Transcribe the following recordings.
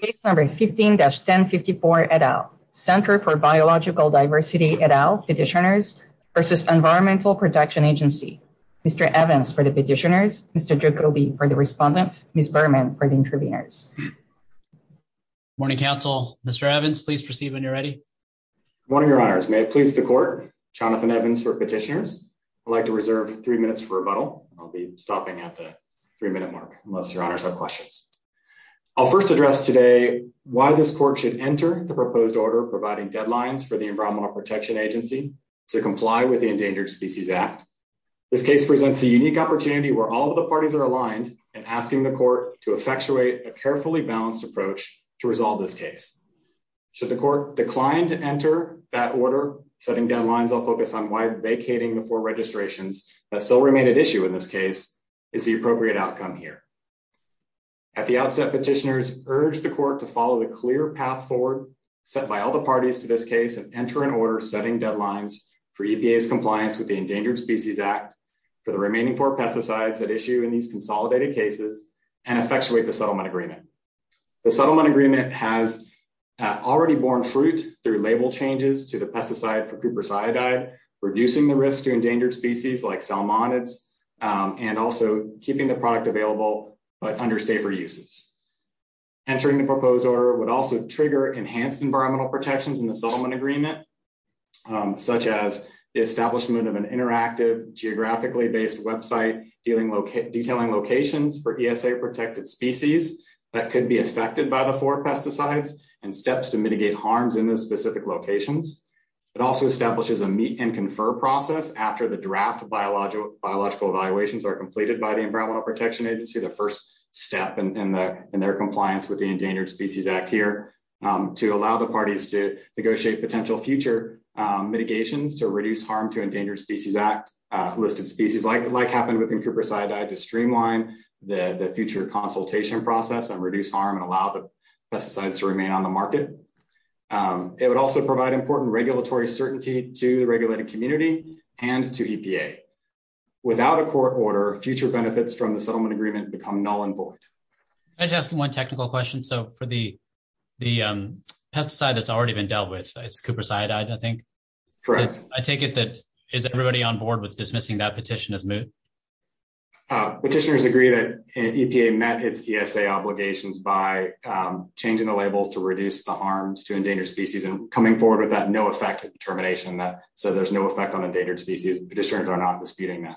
Case number 15-1054 et al. Center for Biological Diversity et al. Petitioners versus Environmental Protection Agency. Mr. Evans for the petitioners, Mr. Jacobi for the respondents, Ms. Berman for the interviewers. Morning, counsel. Mr. Evans, please proceed when you're ready. Good morning, your honors. May it please the court. Jonathan Evans for petitioners. I'd like to reserve three minutes for rebuttal. I'll be stopping at the unless your honors have questions. I'll first address today why this court should enter the proposed order providing deadlines for the Environmental Protection Agency to comply with the Endangered Species Act. This case presents a unique opportunity where all of the parties are aligned and asking the court to effectuate a carefully balanced approach to resolve this case. Should the court decline to enter that order, setting deadlines, I'll focus on why vacating the four registrations that still remain at issue in this case is the appropriate outcome here. At the outset, petitioners urge the court to follow the clear path forward set by all the parties to this case and enter an order setting deadlines for EPA's compliance with the Endangered Species Act for the remaining four pesticides at issue in these consolidated cases and effectuate the settlement agreement. The settlement agreement has already borne fruit through label changes to the pesticide for keeping the product available but under safer uses. Entering the proposed order would also trigger enhanced environmental protections in the settlement agreement, such as the establishment of an interactive geographically based website detailing locations for ESA protected species that could be affected by the four pesticides and steps to mitigate harms in those specific locations. It also establishes a meet and confer process after the draft biological evaluations are by the Environmental Protection Agency, the first step in their compliance with the Endangered Species Act here, to allow the parties to negotiate potential future mitigations to reduce harm to Endangered Species Act listed species, like happened with N. cuprosiidae, to streamline the future consultation process and reduce harm and allow the pesticides to remain on the market. It would also provide important regulatory certainty to the regulated community and to EPA. Without a court order, future benefits from the settlement agreement become null and void. Can I just ask one technical question? So for the pesticide that's already been dealt with, it's cuprosiidae, I think? Correct. I take it that is everybody on board with dismissing that petition as moot? Petitioners agree that EPA met its ESA obligations by changing the labels to reduce the harms to affect determination. So there's no effect on Endangered Species. Petitioners are not disputing that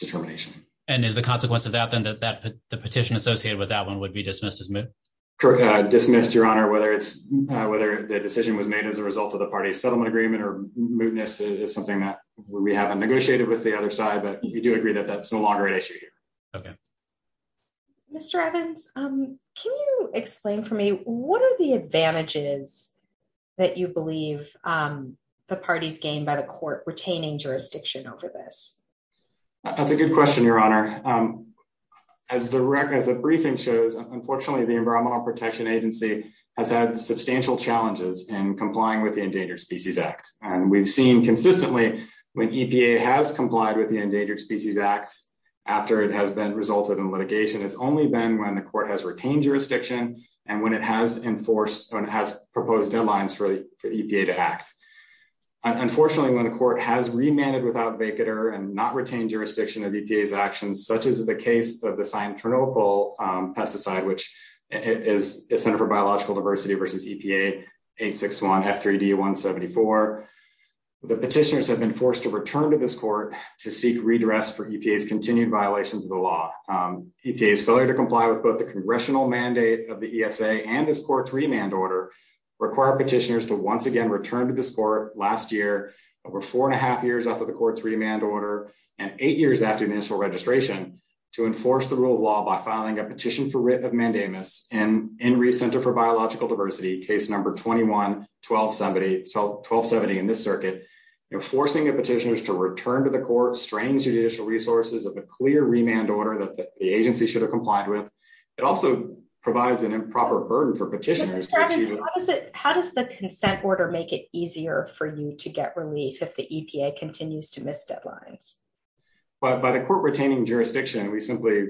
determination. And is the consequence of that then that the petition associated with that one would be dismissed as moot? Dismissed, your honor, whether the decision was made as a result of the party's settlement agreement or mootness is something that we haven't negotiated with the other side, but we do agree that that's no longer an issue here. Okay. Mr. Evans, can you explain for me what are the advantages that you believe the parties gained by the court retaining jurisdiction over this? That's a good question, your honor. As the briefing shows, unfortunately, the Environmental Protection Agency has had substantial challenges in complying with the Endangered Species Act. And we've seen consistently when EPA has complied with the Endangered Species Act after it has been resulted in litigation, it's only been when the court has enforced and has proposed deadlines for EPA to act. Unfortunately, when the court has remanded without vacater and not retained jurisdiction of EPA's actions, such as the case of the cyanotronochal pesticide, which is a Center for Biological Diversity versus EPA 861 F3D 174, the petitioners have been forced to return to this court to seek redress for EPA's continued violations of the law. EPA's failure to comply with both the congressional mandate of the ESA and this court's remand order require petitioners to once again return to this court last year, over four and a half years after the court's remand order, and eight years after initial registration, to enforce the rule of law by filing a petition for writ of mandamus in Reeves Center for Biological Diversity, case number 21-1270 in this circuit. Enforcing the petitioners to return to the court strains judicial resources of a clear remand order that the agency should have complied with. It also provides an improper burden for petitioners. How does the consent order make it easier for you to get relief if the EPA continues to miss deadlines? By the court retaining jurisdiction, we simply...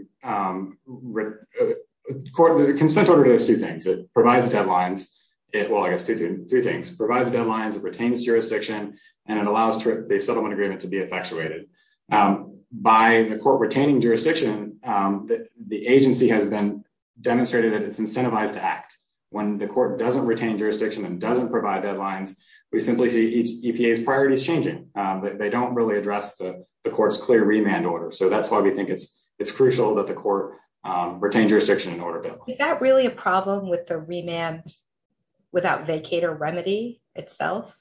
The consent order does two things. It provides deadlines. Well, I guess two things. It provides deadlines, it retains jurisdiction, and it allows the settlement agreement to be effectuated. By the court retaining jurisdiction, the agency has been demonstrated that it's incentivized to act. When the court doesn't retain jurisdiction and doesn't provide deadlines, we simply see each EPA's priorities changing, but they don't really address the court's clear remand order. So that's why we think it's crucial that the court retain jurisdiction in order to... Is that really a problem with the remand without vacator remedy itself?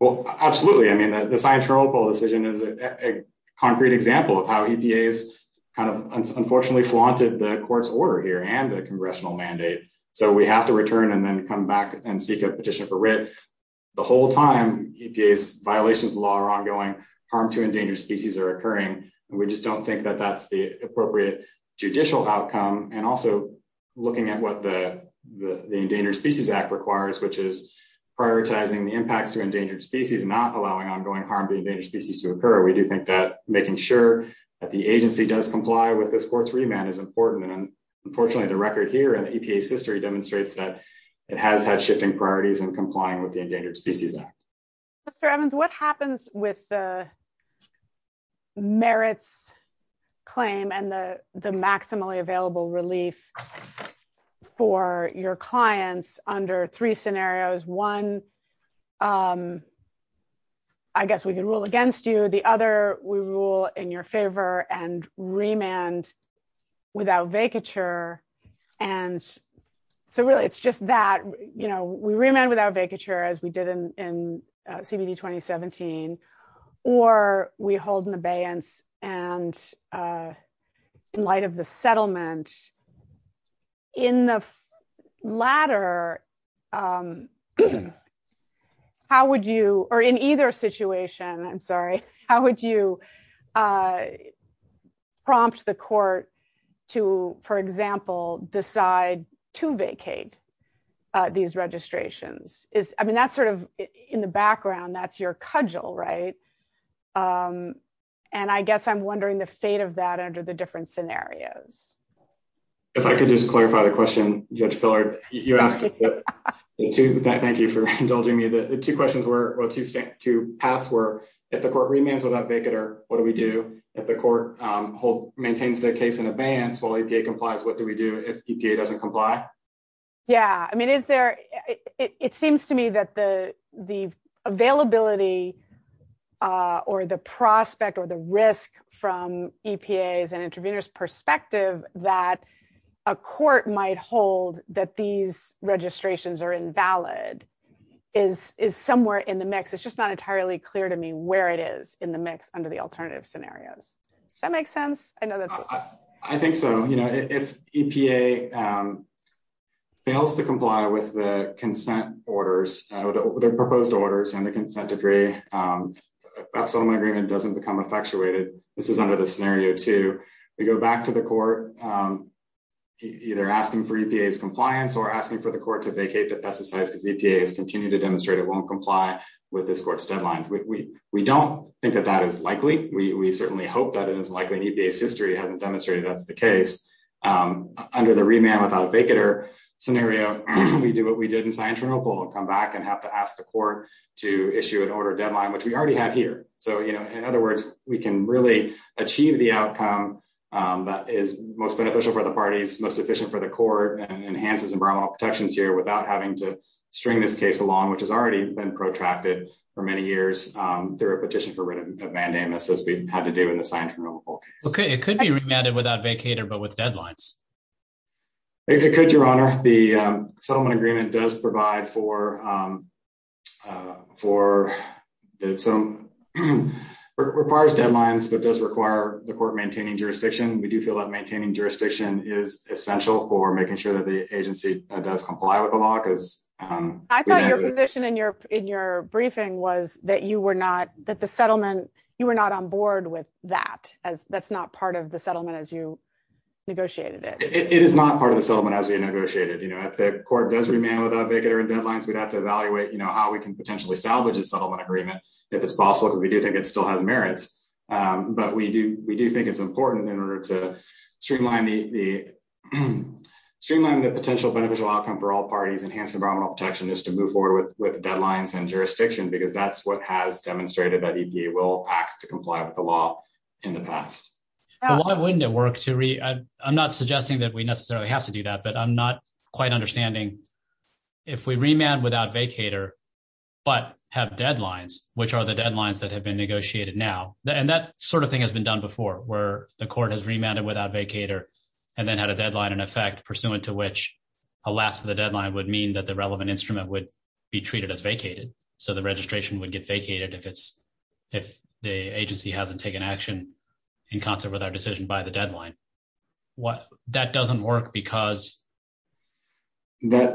Well, absolutely. I mean, the science removal decision is a concrete example of how EPA has kind of unfortunately flaunted the court's order here and the congressional mandate. So we have to return and then come back and seek a petition for writ. The whole time EPA's violations of the law are ongoing, harm to endangered species are occurring, and we just don't think that that's the appropriate judicial outcome. And also looking at what the Endangered Species Act requires, which is allowing ongoing harm to endangered species to occur. We do think that making sure that the agency does comply with this court's remand is important. And unfortunately, the record here and EPA's history demonstrates that it has had shifting priorities in complying with the Endangered Species Act. Mr. Evans, what happens with the merits claim and the maximally available relief for your clients under three scenarios? One, I guess we can rule against you. The other, we rule in your favor and remand without vacature. And so really, it's just that we remand without vacature. And in the latter, how would you, or in either situation, I'm sorry, how would you prompt the court to, for example, decide to vacate these registrations? I mean, that's sort of in the background, that's your cudgel, right? And I guess I'm wondering the fate of that under the scenarios. If I could just clarify the question, Judge Pillard, you asked it. Thank you for indulging me. The two questions were, or two paths were, if the court remands without vacater, what do we do? If the court maintains their case in advance while EPA complies, what do we do if EPA doesn't comply? Yeah. I mean, it seems to me that the availability or the prospect or the risk from EPA's and intervenors' perspective that a court might hold that these registrations are invalid is somewhere in the mix. It's just not entirely clear to me where it is in the mix under the alternative scenarios. Does that make sense? I know that's- I think so. If EPA fails to comply with the consent orders, their proposed orders and the consent decree, that settlement agreement doesn't become effectuated. This is under the scenario two. We go back to the court, either asking for EPA's compliance or asking for the court to vacate the pesticides because EPA has continued to demonstrate it won't comply with this court's deadlines. We don't think that that is likely. We certainly hope that it is likely. In EPA's history, it hasn't demonstrated that's the case. Under the remand without vacater scenario, we do what we did in Scientronical and come back and have to ask the court to issue an order deadline, which we already have here. In other words, we can really achieve the outcome that is most beneficial for the parties, most efficient for the court, and enhances environmental protections here without having to string this case along, which has already been protracted for many years through a petition for writ of mandamus as we had to do in the Scientronical case. It could be remanded without vacater but with deadlines. It could, Your Honor. The settlement agreement does provide for that. It requires deadlines but does require the court maintaining jurisdiction. We do feel that maintaining jurisdiction is essential for making sure that the agency does comply with the law. I thought your position in your briefing was that you were not on board with that. That's not part of the settlement as you negotiated it. It is not part of the settlement as we negotiated. If the court does remand without vacater and deadlines, we'd have to evaluate how we can potentially salvage the settlement agreement if it's possible because we do think it still has merits. We do think it's important in order to streamline the potential beneficial outcome for all parties, enhance environmental protection, just to move forward with deadlines and jurisdiction because that's what has demonstrated that EPA will act to comply with the law in the past. Why wouldn't it work? I'm not suggesting that we necessarily have to do that but I'm not quite understanding if we remand without vacater but have deadlines, which are the deadlines that have been negotiated now. That sort of thing has been done before where the court has remanded without vacater and then had a deadline in effect pursuant to which a lapse of the deadline would mean that the relevant instrument would be treated as vacated. The registration would get vacated if the agency hasn't taken action in concert with our decision by the deadline. That doesn't work because it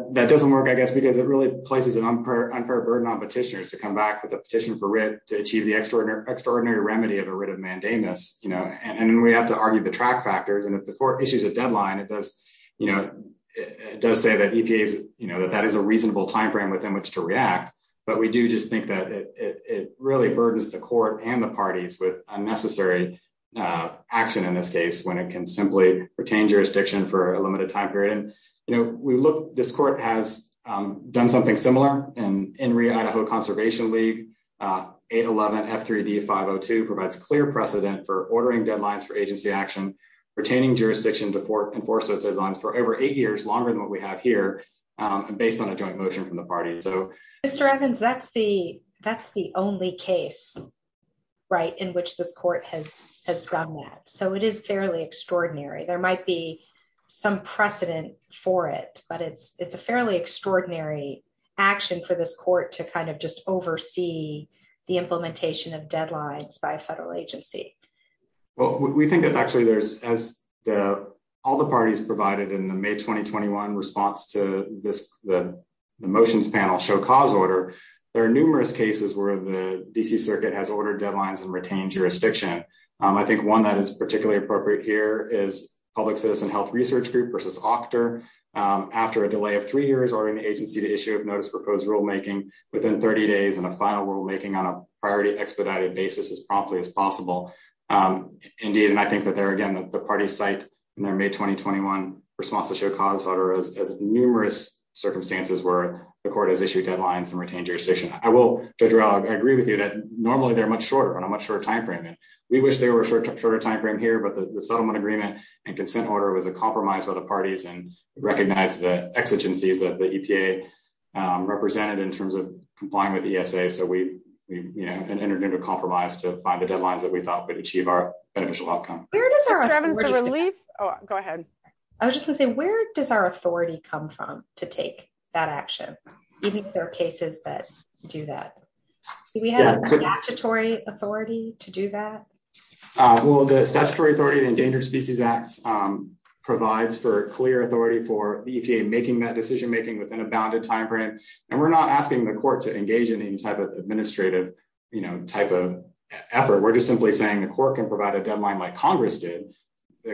really places an unfair burden on petitioners to come back with a petition for writ to achieve the extraordinary remedy of a writ of mandamus. We have to argue the track factors and if the court issues a deadline, it does say that that is a reasonable time frame within which to react, but we do just think that it really burdens the court and the parties with unnecessary action in this case when it can simply retain jurisdiction for a limited time period. This court has done something similar in the Idaho Conservation League. 811 F3D 502 provides clear precedent for ordering deadlines for agency action, retaining jurisdiction to enforce those deadlines for over eight years longer than what we have here based on a joint motion from the party. Mr. Evans, that's the only case in which this court has done that. It is fairly extraordinary. There might be some precedent for it, but it's a fairly extraordinary action for this court to just oversee the implementation of deadlines by a federal agency. Well, we think that actually there's, as all the parties provided in the May 2021 response to the motions panel show cause order, there are numerous cases where the D.C. Circuit has ordered deadlines and retained jurisdiction. I think one that is particularly appropriate here is Public Citizen Health Research Group v. Octor after a delay of three years ordering the agency to issue a notice of proposed rulemaking within 30 days and a final rulemaking on a priority expedited basis as promptly as possible. Indeed, and I think that there again the parties cite their May 2021 response to show cause order as numerous circumstances where the court has issued deadlines and retained jurisdiction. I will, Judge Rowell, I agree with you that normally they're much shorter, but a much shorter time frame. We wish they were a shorter time frame here, but the settlement agreement and consent order was a compromise by the parties and recognized the exigencies that the EPA represented in terms of complying with the ESA. So we, you know, entered into a compromise to find the deadlines that we thought would achieve our outcome. Where does our relief? Oh, go ahead. I was just gonna say, where does our authority come from to take that action? Do you think there are cases that do that? Do we have a statutory authority to do that? Well, the statutory authority in Endangered Species Act provides for clear authority for the EPA making that decision making within a bounded time frame, and we're not asking the court to engage in any type of administrative, you know, type of effort. We're just simply saying the court can provide a deadline like Congress did.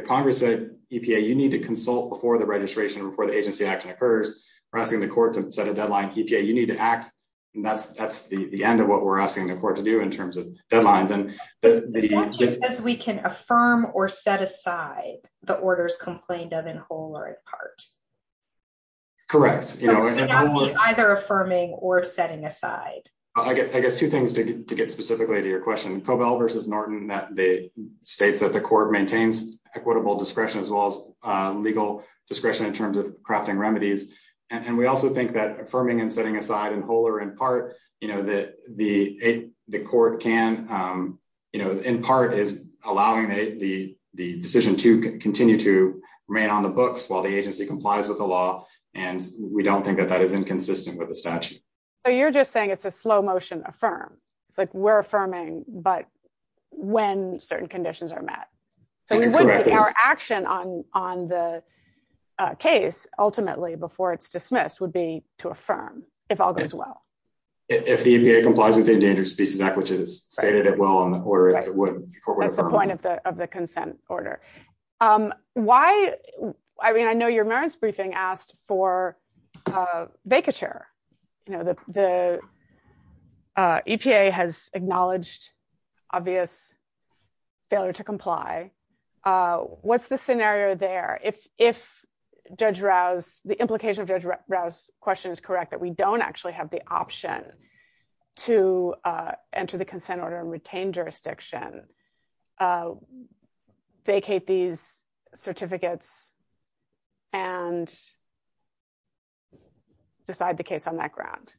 Congress said, EPA, you need to consult before the registration, before the agency action occurs. We're asking the court to set a deadline. EPA, you need to act, and that's the end of what we're asking the court to do in terms of deadlines. And the statute says we can affirm or set aside the orders complained of in whole or in part. Correct. Either affirming or setting aside. I guess two things to get specifically to your states that the court maintains equitable discretion as well as legal discretion in terms of crafting remedies, and we also think that affirming and setting aside in whole or in part, you know, that the court can, you know, in part is allowing the decision to continue to remain on the books while the agency complies with the law, and we don't think that that is inconsistent with the statute. So you're just saying it's a slow motion affirm. It's like, we're affirming, but when certain conditions are met. So our action on the case ultimately before it's dismissed would be to affirm, if all goes well. If the EPA complies with the Endangered Species Act, which is stated well in the order that the court would affirm. That's the point of the consent order. Why, I mean, I know your Marin's briefing asked for vacature. You know, the EPA has acknowledged obvious failure to comply. What's the scenario there? If Judge Rouse, the implication of Judge Rouse's question is correct, that we don't actually have the option to enter the consent order and retain jurisdiction, vacate these certificates, and decide the case on that ground?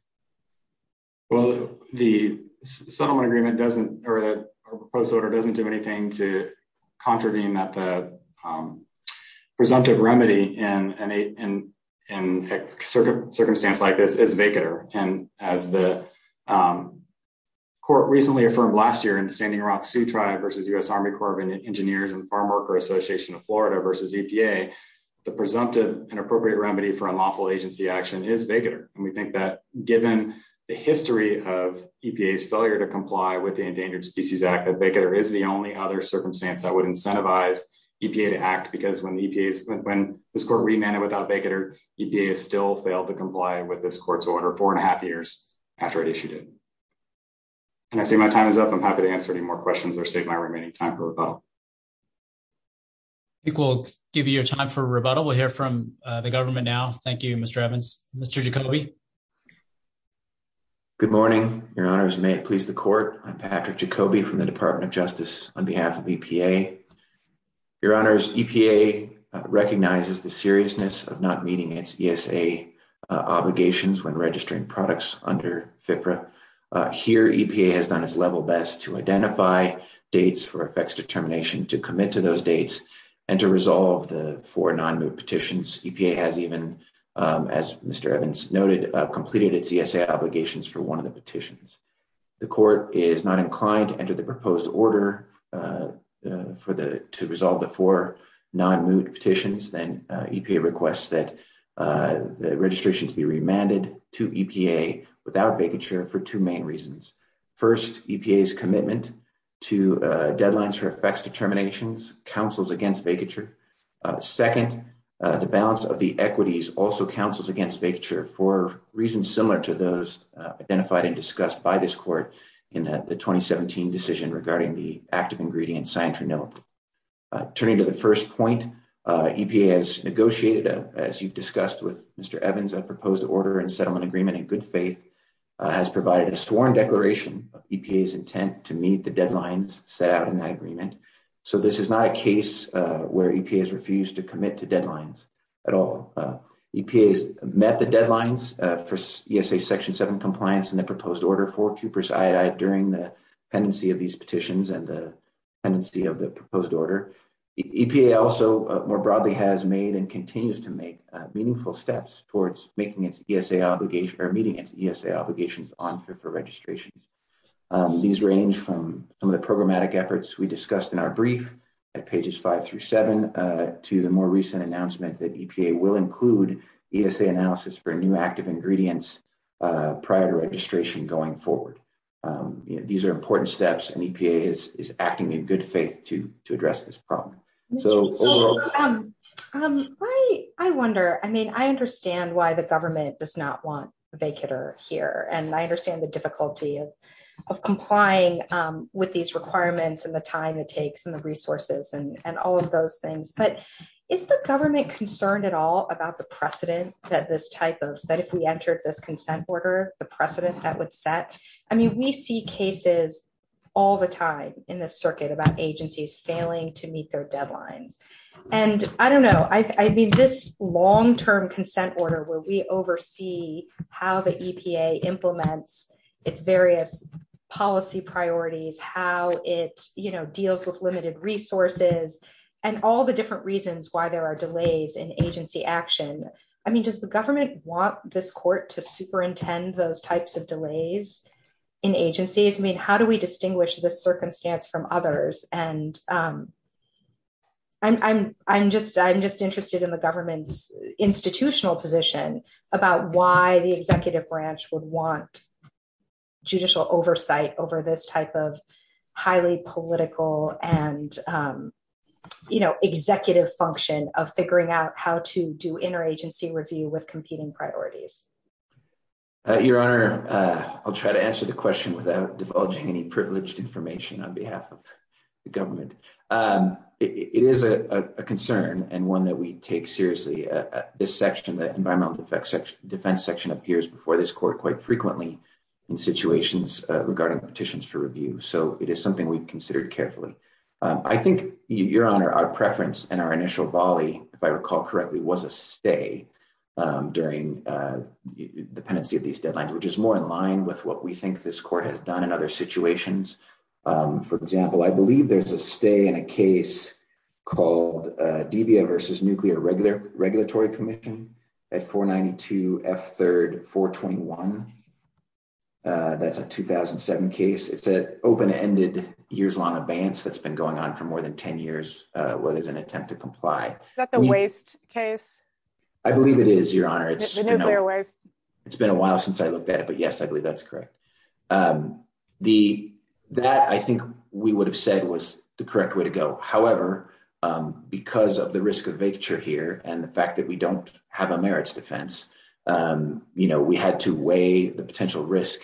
Well, the settlement agreement doesn't, or the proposed order doesn't do anything to contravene that the presumptive remedy in circumstance like this is vacater. And as the court recently affirmed last year in the Standing Rock Sioux Tribe versus U.S. Army Corps of Engineers and Farmworker Association of Florida versus EPA, the presumptive and appropriate remedy for unlawful agency action is vacater. And we think that given the history of EPA's failure to comply with the Endangered Species Act, that vacater is the only other circumstance that would incentivize EPA to act. Because when this court remanded without vacater, EPA has still failed to comply with this court's order four and a half years after it issued it. And I see my time is up. I'm happy to answer any questions or save my remaining time for rebuttal. I think we'll give you your time for rebuttal. We'll hear from the government now. Thank you, Mr. Evans. Mr. Jacoby. Good morning, Your Honors. May it please the court. I'm Patrick Jacoby from the Department of Justice on behalf of EPA. Your Honors, EPA recognizes the seriousness of not meeting its ESA obligations when registering products under FFRA. Here, EPA has done its level best to identify dates for effects determination, to commit to those dates, and to resolve the four non-moot petitions. EPA has even, as Mr. Evans noted, completed its ESA obligations for one of the petitions. The court is not inclined to enter the proposed order to resolve the four non-moot petitions. EPA requests that the registrations be remanded to EPA without vacature for two main reasons. First, EPA's commitment to deadlines for effects determinations counsels against vacature. Second, the balance of the equities also counsels against vacature for reasons similar to those identified and discussed by this court in the 2017 decision regarding the active ingredient sanctuary note. Turning to the first point, EPA has negotiated, as you've discussed with Mr. Evans, a proposed order and settlement agreement in good faith has provided a sworn declaration of EPA's intent to meet the deadlines set out in that agreement. So this is not a case where EPA has refused to commit to deadlines at all. EPA has met the deadlines for ESA section 7 compliance in the proposed order for cuprous iodide during the pendency of these petitions and the pendency of the proposed order. EPA also more broadly has made and continues to make meaningful steps towards making its ESA obligation or meeting its ESA obligations on for registrations. These range from some of the programmatic efforts we discussed in our brief at pages 5 through 7 to the more recent announcement that EPA will include ESA analysis for new active ingredients prior to registration going forward. These are important steps and EPA is acting in good faith to address this problem. I wonder, I mean, I understand why the government does not want vacater here and I understand the difficulty of complying with these requirements and the time it takes and the resources and is the government concerned at all about the precedent that this type of that if we entered this consent order the precedent that would set? I mean we see cases all the time in the circuit about agencies failing to meet their deadlines and I don't know I mean this long-term consent order where we oversee how the EPA implements its various policy priorities, how it you know deals with limited resources and all the different reasons why there are delays in agency action. I mean does the government want this court to superintend those types of delays in agencies? I mean how do we distinguish this circumstance from others and I'm just interested in the government's institutional position about why the executive branch would want judicial oversight over this type of highly political and you know executive function of figuring out how to do interagency review with competing priorities. Your Honor, I'll try to answer the question without divulging any privileged information on behalf of the government. It is a concern and one that we take seriously. This section, the environmental defense section, appears before this court quite frequently in situations regarding petitions for review so it is something we've considered carefully. I think, Your Honor, our preference and our initial volley, if I recall correctly, was a stay during the pendency of these deadlines which is more in line with what we think this court has done in other situations. For example, I believe there's a stay in a case called DBA versus Nuclear Regulatory Commission at 492 F 3rd 421. That's a 2007 case. It's an open-ended years-long advance that's been going on for more than 10 years where there's an attempt to comply. Is that the waste case? I believe it is, Your Honor. It's nuclear waste. It's been a while since I looked at it but yes, I believe that's correct. That, I think, we would have said was the correct way to go. However, because of the vacature here and the fact that we don't have a merits defense, we had to weigh the potential risk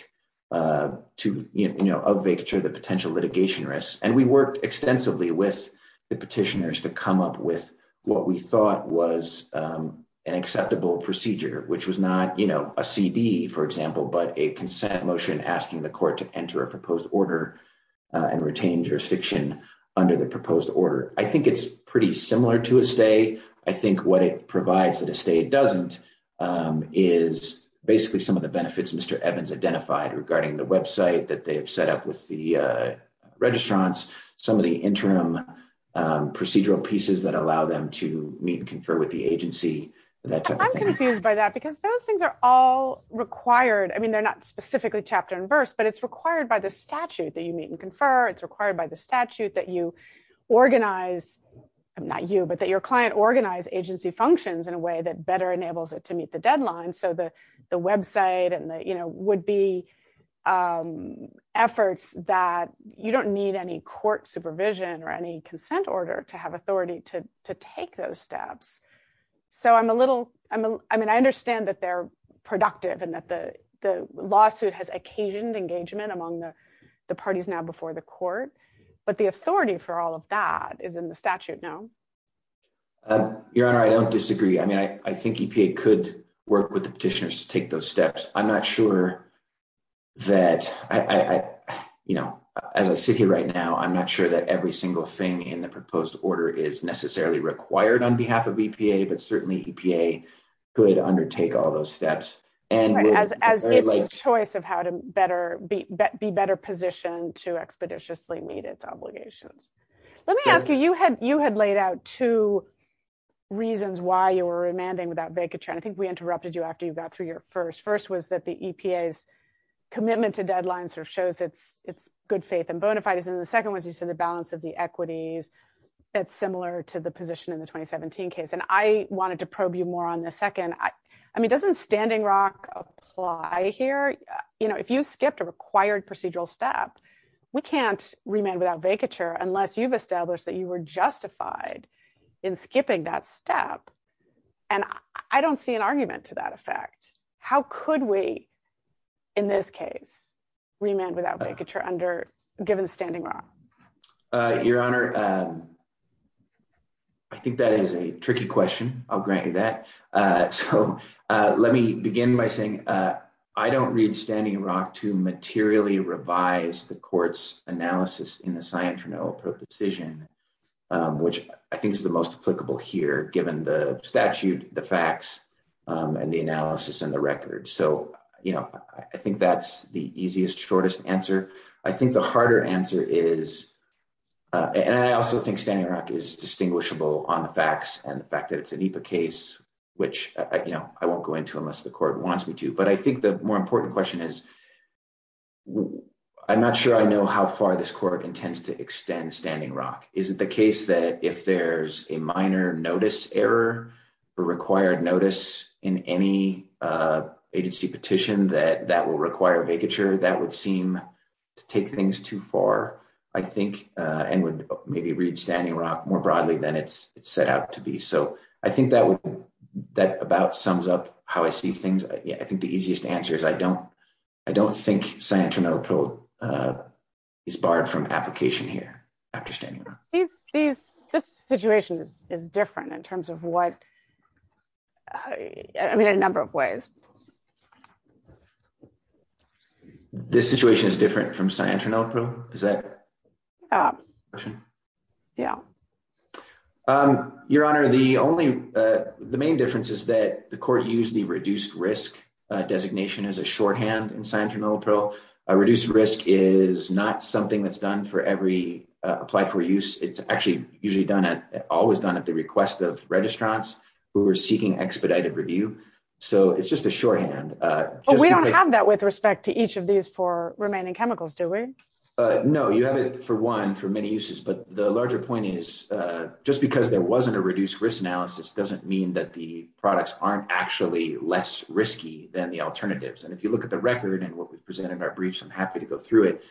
of vacature, the potential litigation risks. We worked extensively with the petitioners to come up with what we thought was an acceptable procedure which was not a CD, for example, but a consent motion asking the court to enter a proposed order and retain jurisdiction under the I think what it provides that a stay doesn't is basically some of the benefits Mr. Evans identified regarding the website that they have set up with the registrants, some of the interim procedural pieces that allow them to meet and confer with the agency, that type of thing. I'm confused by that because those things are all required. I mean, they're not specifically chapter and verse but it's required by the statute that you meet and confer. It's required by the organized agency functions in a way that better enables it to meet the deadline so the website and the, you know, would be efforts that you don't need any court supervision or any consent order to have authority to take those steps. So I'm a little, I mean, I understand that they're productive and that the lawsuit has occasioned engagement among the parties now before the court but the Your Honor, I don't disagree. I mean, I think EPA could work with the petitioners to take those steps. I'm not sure that I, you know, as I sit here right now, I'm not sure that every single thing in the proposed order is necessarily required on behalf of EPA but certainly EPA could undertake all those steps and as its choice of how to better be better positioned to reasons why you were remanding without vacature and I think we interrupted you after you got through your first. First was that the EPA's commitment to deadlines sort of shows its good faith and bona fides and the second was you said the balance of the equities that's similar to the position in the 2017 case and I wanted to probe you more on the second. I mean, doesn't Standing Rock apply here? You know, if you skipped a required procedural step, we can't remand without vacature unless you've established that you were justified in skipping that step and I don't see an argument to that effect. How could we, in this case, remand without vacature under, given Standing Rock? Your Honor, I think that is a tricky question. I'll grant you that. So let me begin by saying I don't read Standing Rock to materially revise the court's analysis in the Scientron Oval Proposition which I think is the most applicable here given the statute, the facts, and the analysis and the record. So, you know, I think that's the easiest, shortest answer. I think the harder answer is, and I also think Standing Rock is distinguishable on the facts and the fact that it's an EPA case which, you know, I won't go into unless the court wants me to, but I think the more important question is I'm not sure I know how far this court intends to extend Standing Rock. Is it the case that if there's a minor notice error or required notice in any agency petition that that will require vacature? That would seem to take things too far, I think, and would maybe read Standing Rock more broadly than it's set out to be. So I think that would, that about sums up how I see things. I think the easiest answer is I don't think Scientron Oval Proposition is barred from application here after Standing Rock. This situation is different in terms of what, I mean, a number of ways. This situation is different from Scientron Oval Proposition? Is that the question? Yeah. Your Honor, the only, the main difference is that the court used the reduced risk designation as a shorthand in Scientron Oval Proposition. Reduced risk is not something that's done for every applied for use. It's actually usually done at, always done at the request of registrants who are seeking expedited review. So it's just a shorthand. We don't have that with respect to each of these four remaining chemicals, do we? No, you have it for one for many uses, but the larger point is just because there wasn't a reduced risk analysis doesn't mean that the products aren't actually less risky than the alternatives. And if you look at the record and what we've presented in our briefs, I'm happy to go through it.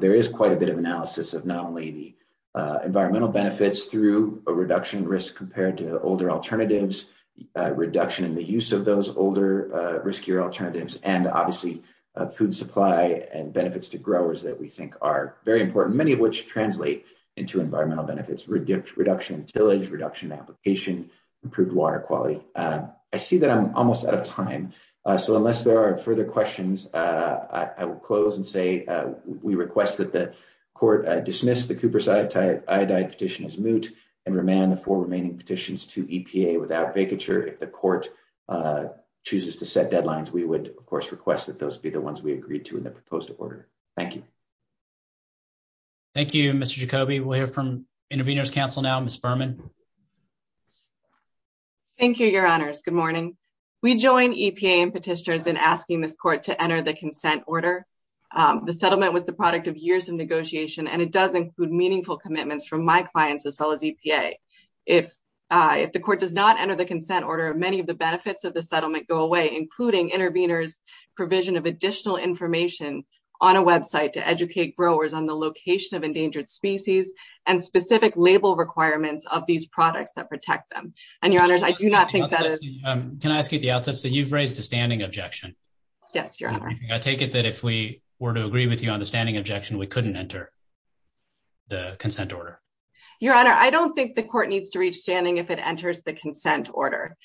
There is quite a bit of analysis of not only the environmental benefits through a reduction in risk compared to older alternatives, reduction in the use of those older riskier alternatives, and obviously food supply and benefits to growers that we think are very important, many of which translate into environmental benefits, reduction in tillage, reduction in application, improved water quality. I see that I'm almost out of time. So unless there are further questions, I will close and say we request that the court dismiss the Cooper's iodide petition as moot and remand the four remaining petitions to EPA without vacature. If the court chooses to set deadlines, we would of course request that those be the ones we agreed to in the proposed order. Thank you. Thank you, Mr. Jacoby. We'll hear from Intervenors Council now, Ms. Berman. Thank you, your honors. Good morning. We join EPA and petitioners in asking this court to enter the consent order. The settlement was the product of years of negotiation, and it does include meaningful commitments from my clients as well as EPA. If the court does not enter the consent order, many of the benefits of the settlement go away, including intervenors' provision of additional information on a website to educate growers on the location of endangered species and specific label requirements of these products that protect them. And your honors, I do not think that is... Can I ask you the outset? So you've raised a standing objection. Yes, your honor. I take it that if we were to agree with you on the standing objection, we couldn't enter the consent order. Your honor, I don't think the court needs to reach standing if it enters the consent order.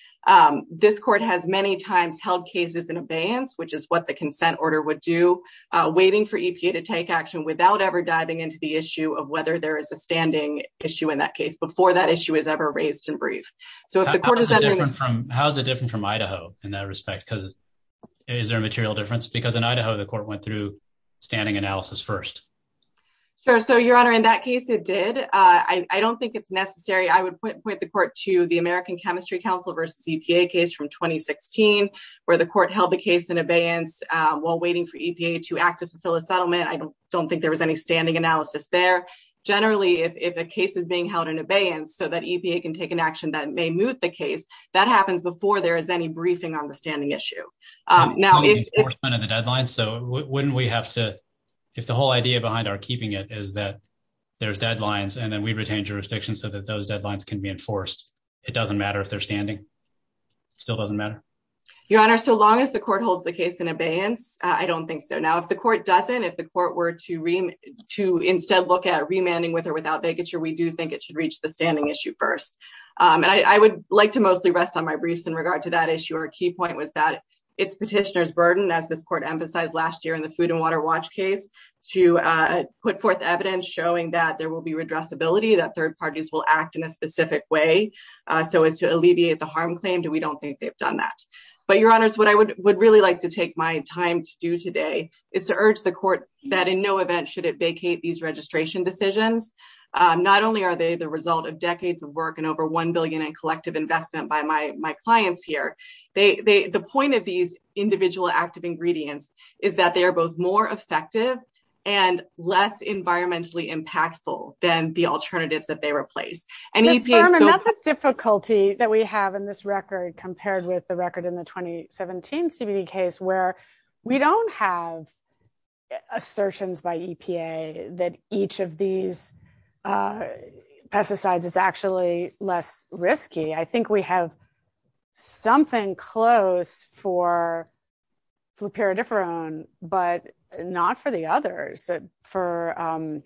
This court has many times held cases in abeyance, which is what the consent order would do, waiting for EPA to take action without ever diving into the issue of whether there is a standing issue in that case before that issue is ever raised in brief. So if the court is... How is it different from Idaho in that respect? Because is there a standing analysis first? Sure. So your honor, in that case, it did. I don't think it's necessary. I would point the court to the American Chemistry Council versus EPA case from 2016, where the court held the case in abeyance while waiting for EPA to act to fulfill a settlement. I don't think there was any standing analysis there. Generally, if a case is being held in abeyance so that EPA can take an action that may move the case, that happens before there is any briefing on the case. If the whole idea behind our keeping it is that there's deadlines and then we retain jurisdiction so that those deadlines can be enforced, it doesn't matter if they're standing? Still doesn't matter? Your honor, so long as the court holds the case in abeyance, I don't think so. Now, if the court doesn't, if the court were to instead look at remanding with or without vacature, we do think it should reach the standing issue first. And I would like to mostly rest on my briefs in regard to that issue. Our key point was that it's petitioner's burden, as this court emphasized last year in the Food and Water Watch case, to put forth evidence showing that there will be redressability, that third parties will act in a specific way so as to alleviate the harm claimed, and we don't think they've done that. But your honors, what I would really like to take my time to do today is to urge the court that in no event should it vacate these registration decisions. Not only are they the result of decades of work and over $1 billion in collective investment by my clients here, the point of these individual active ingredients is that they are both more effective and less environmentally impactful than the alternatives that they replace. And EPA's so- Another difficulty that we have in this record compared with the record in the 2017 CBD case, where we don't have assertions by EPA that each of these pesticides is actually less risky. I think we have something close for fluperidiferone, but not for the others. For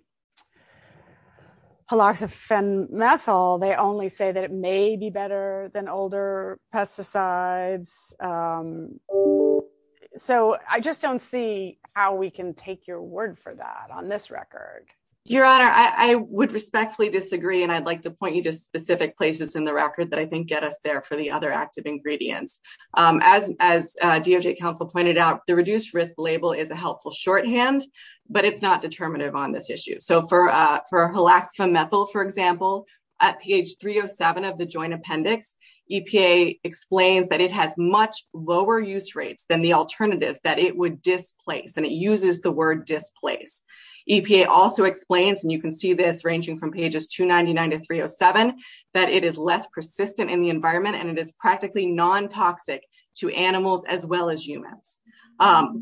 haloxamethyl, they only say that it may be better than older pesticides. So I just don't see how we can take your word for that on this record. Your honor, I would respectfully disagree, and I'd like to point you to specific places in the record that I think get us there for the other active ingredients. As DOJ counsel pointed out, the reduced risk label is a helpful shorthand, but it's not determinative on this issue. So for haloxamethyl, for example, at page 307 of the joint appendix, EPA explains that it has much lower use rates than the alternatives that it would displace, and it uses the word displace. EPA also explains, and you can see this ranging from pages 299 to 307, that it is less persistent in the environment, and it is practically non-toxic to animals as well as humans.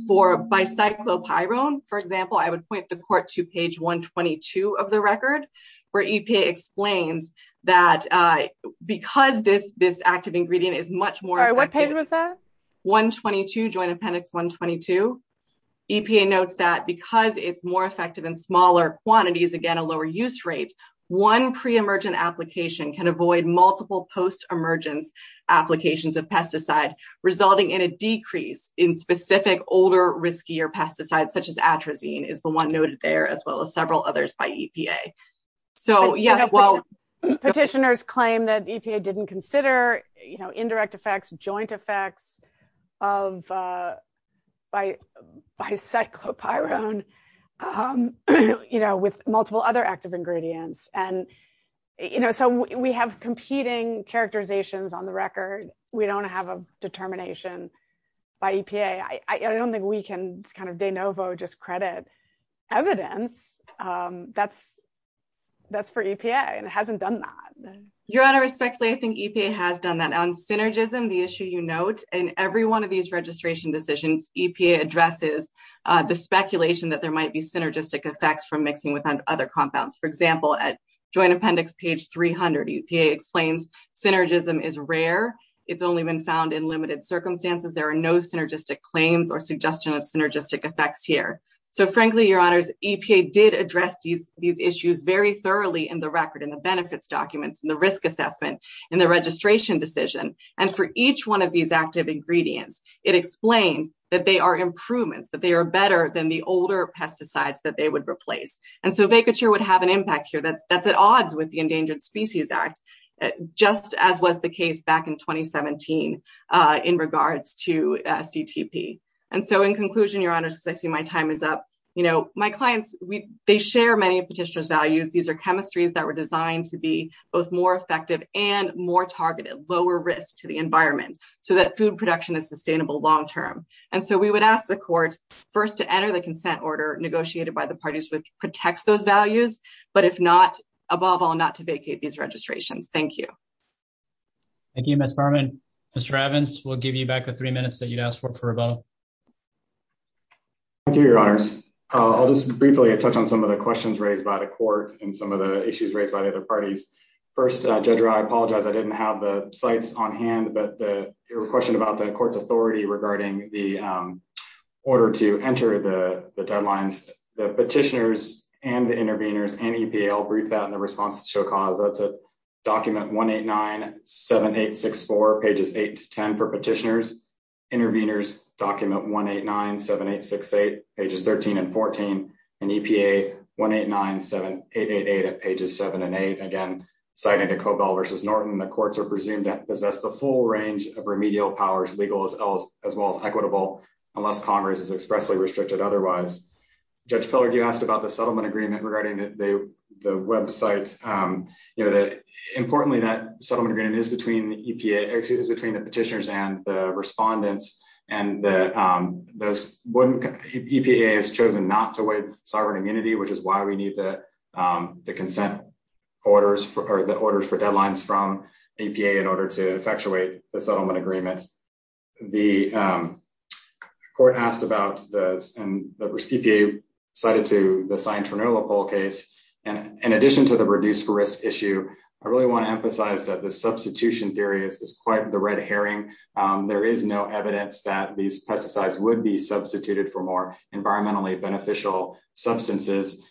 For bicyclopyrone, for example, I would point the court to page 122 of the record, where EPA explains that because this active ingredient is much more- What page was that? 122, joint appendix 122. EPA notes that because it's more effective in smaller quantities, again, a lower use rate, one pre-emergent application can avoid multiple post-emergence applications of pesticide, resulting in a decrease in specific older, riskier pesticides, such as atrazine, is the one noted there, as well as several others by EPA. So, yes, well- Petitioners claim that EPA didn't consider indirect effects, joint effects by bicyclopyrone with multiple other active ingredients. So, we have competing characterizations on the record. We don't have a determination by EPA. I don't think we can de novo just credit evidence that's for EPA, and it hasn't done that. Your Honor, respectfully, I think EPA has done that. On synergism, the issue you note, in every one of these registration decisions, EPA addresses the speculation that there might be synergistic effects from mixing with other compounds. For example, at joint appendix page 300, EPA explains synergism is rare. It's only been found in limited circumstances. There are synergistic claims or suggestion of synergistic effects here. So, frankly, Your Honor, EPA did address these issues very thoroughly in the record, in the benefits documents, in the risk assessment, in the registration decision. And for each one of these active ingredients, it explained that they are improvements, that they are better than the older pesticides that they would replace. And so, vacature would have an impact here. That's at odds with the Endangered Species Act, just as was the case back in 2017 in regards to CTP. And so, in conclusion, Your Honor, since I see my time is up, my clients, they share many of Petitioner's values. These are chemistries that were designed to be both more effective and more targeted, lower risk to the environment, so that food production is sustainable long term. And so, we would ask the court first to enter the consent order negotiated by the parties which protects those values, but if not, above all, to vacate these registrations. Thank you. Thank you, Ms. Berman. Mr. Evans, we'll give you back the three minutes that you'd asked for for rebuttal. Thank you, Your Honors. I'll just briefly touch on some of the questions raised by the court and some of the issues raised by the other parties. First, Judge Rye, I apologize, I didn't have the slides on hand, but your question about the court's authority regarding the order to enter the deadlines, the Petitioner's and the OCAZA, that's at document 189-7864, pages 8 to 10 for Petitioner's. Intervenors, document 189-7868, pages 13 and 14. And EPA, 189-7888 at pages 7 and 8. Again, citing the Cobell versus Norton, the courts are presumed to possess the full range of remedial powers, legal as well as equitable, unless Congress is expressly restricted otherwise. Judge Feller, you asked about the settlement agreement regarding the websites. Importantly, that settlement agreement is between the Petitioner's and the Respondent's, and EPA has chosen not to waive sovereign immunity, which is why we need the consent orders, or the orders for deadlines from EPA in order to effectuate the settlement agreement. The court asked about this, and EPA cited to the Scientronola poll case, and in addition to the reduced risk issue, I really want to emphasize that the substitution theory is quite the red herring. There is no evidence that these pesticides would be substituted for more environmentally beneficial substances.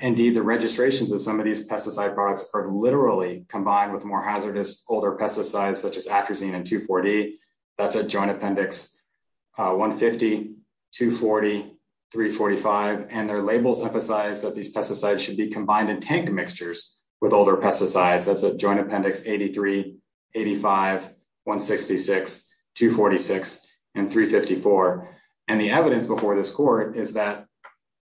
Indeed, the registrations of some of these pesticide products are literally combined with more hazardous older pesticides, such as atrazine and 2,4-D. That's at Joint Appendix 150, 240, 345, and their labels emphasize that these pesticides should be combined in tank mixtures with older pesticides. That's at Joint Appendix 83, 85, 166, 246, and 354. And the evidence before this court is that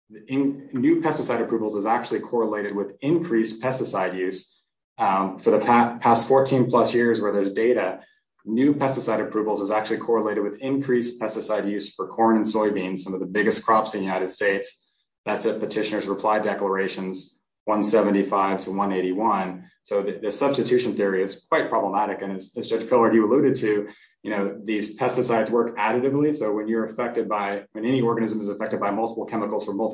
new pesticide approvals is actually correlated with increased pesticide use. For the past 14 plus years where there's data, new pesticide approvals is actually correlated with increased pesticide use for corn and soybeans, some of the biggest crops in the United States. That's at Petitioner's Reply Declarations 175 to 181. So the substitution theory is quite problematic, and as Judge Pillard, you alluded to, you know, these pesticides work additively, so when you're affected by, when any organism is affected by multiple chemicals from so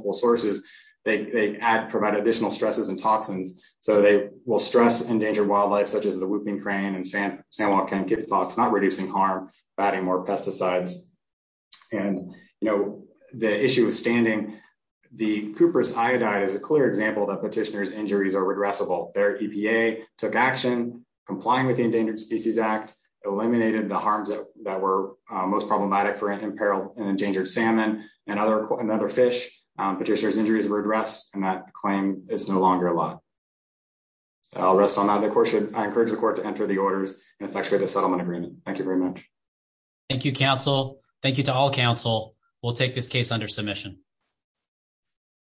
they will stress endangered wildlife, such as the whooping crane and sand, sand walk can give thoughts not reducing harm by adding more pesticides. And, you know, the issue with standing the cuprous iodide is a clear example that Petitioner's injuries are redressable. Their EPA took action, complying with the Endangered Species Act, eliminated the harms that were most problematic for imperiled and endangered salmon and other, and other fish. Petitioner's injuries were addressed, and that claim is no longer a lot. I'll rest on that. Of course, I encourage the court to enter the orders and effectuate the settlement agreement. Thank you very much. Thank you, counsel. Thank you to all counsel. We'll take this case under submission.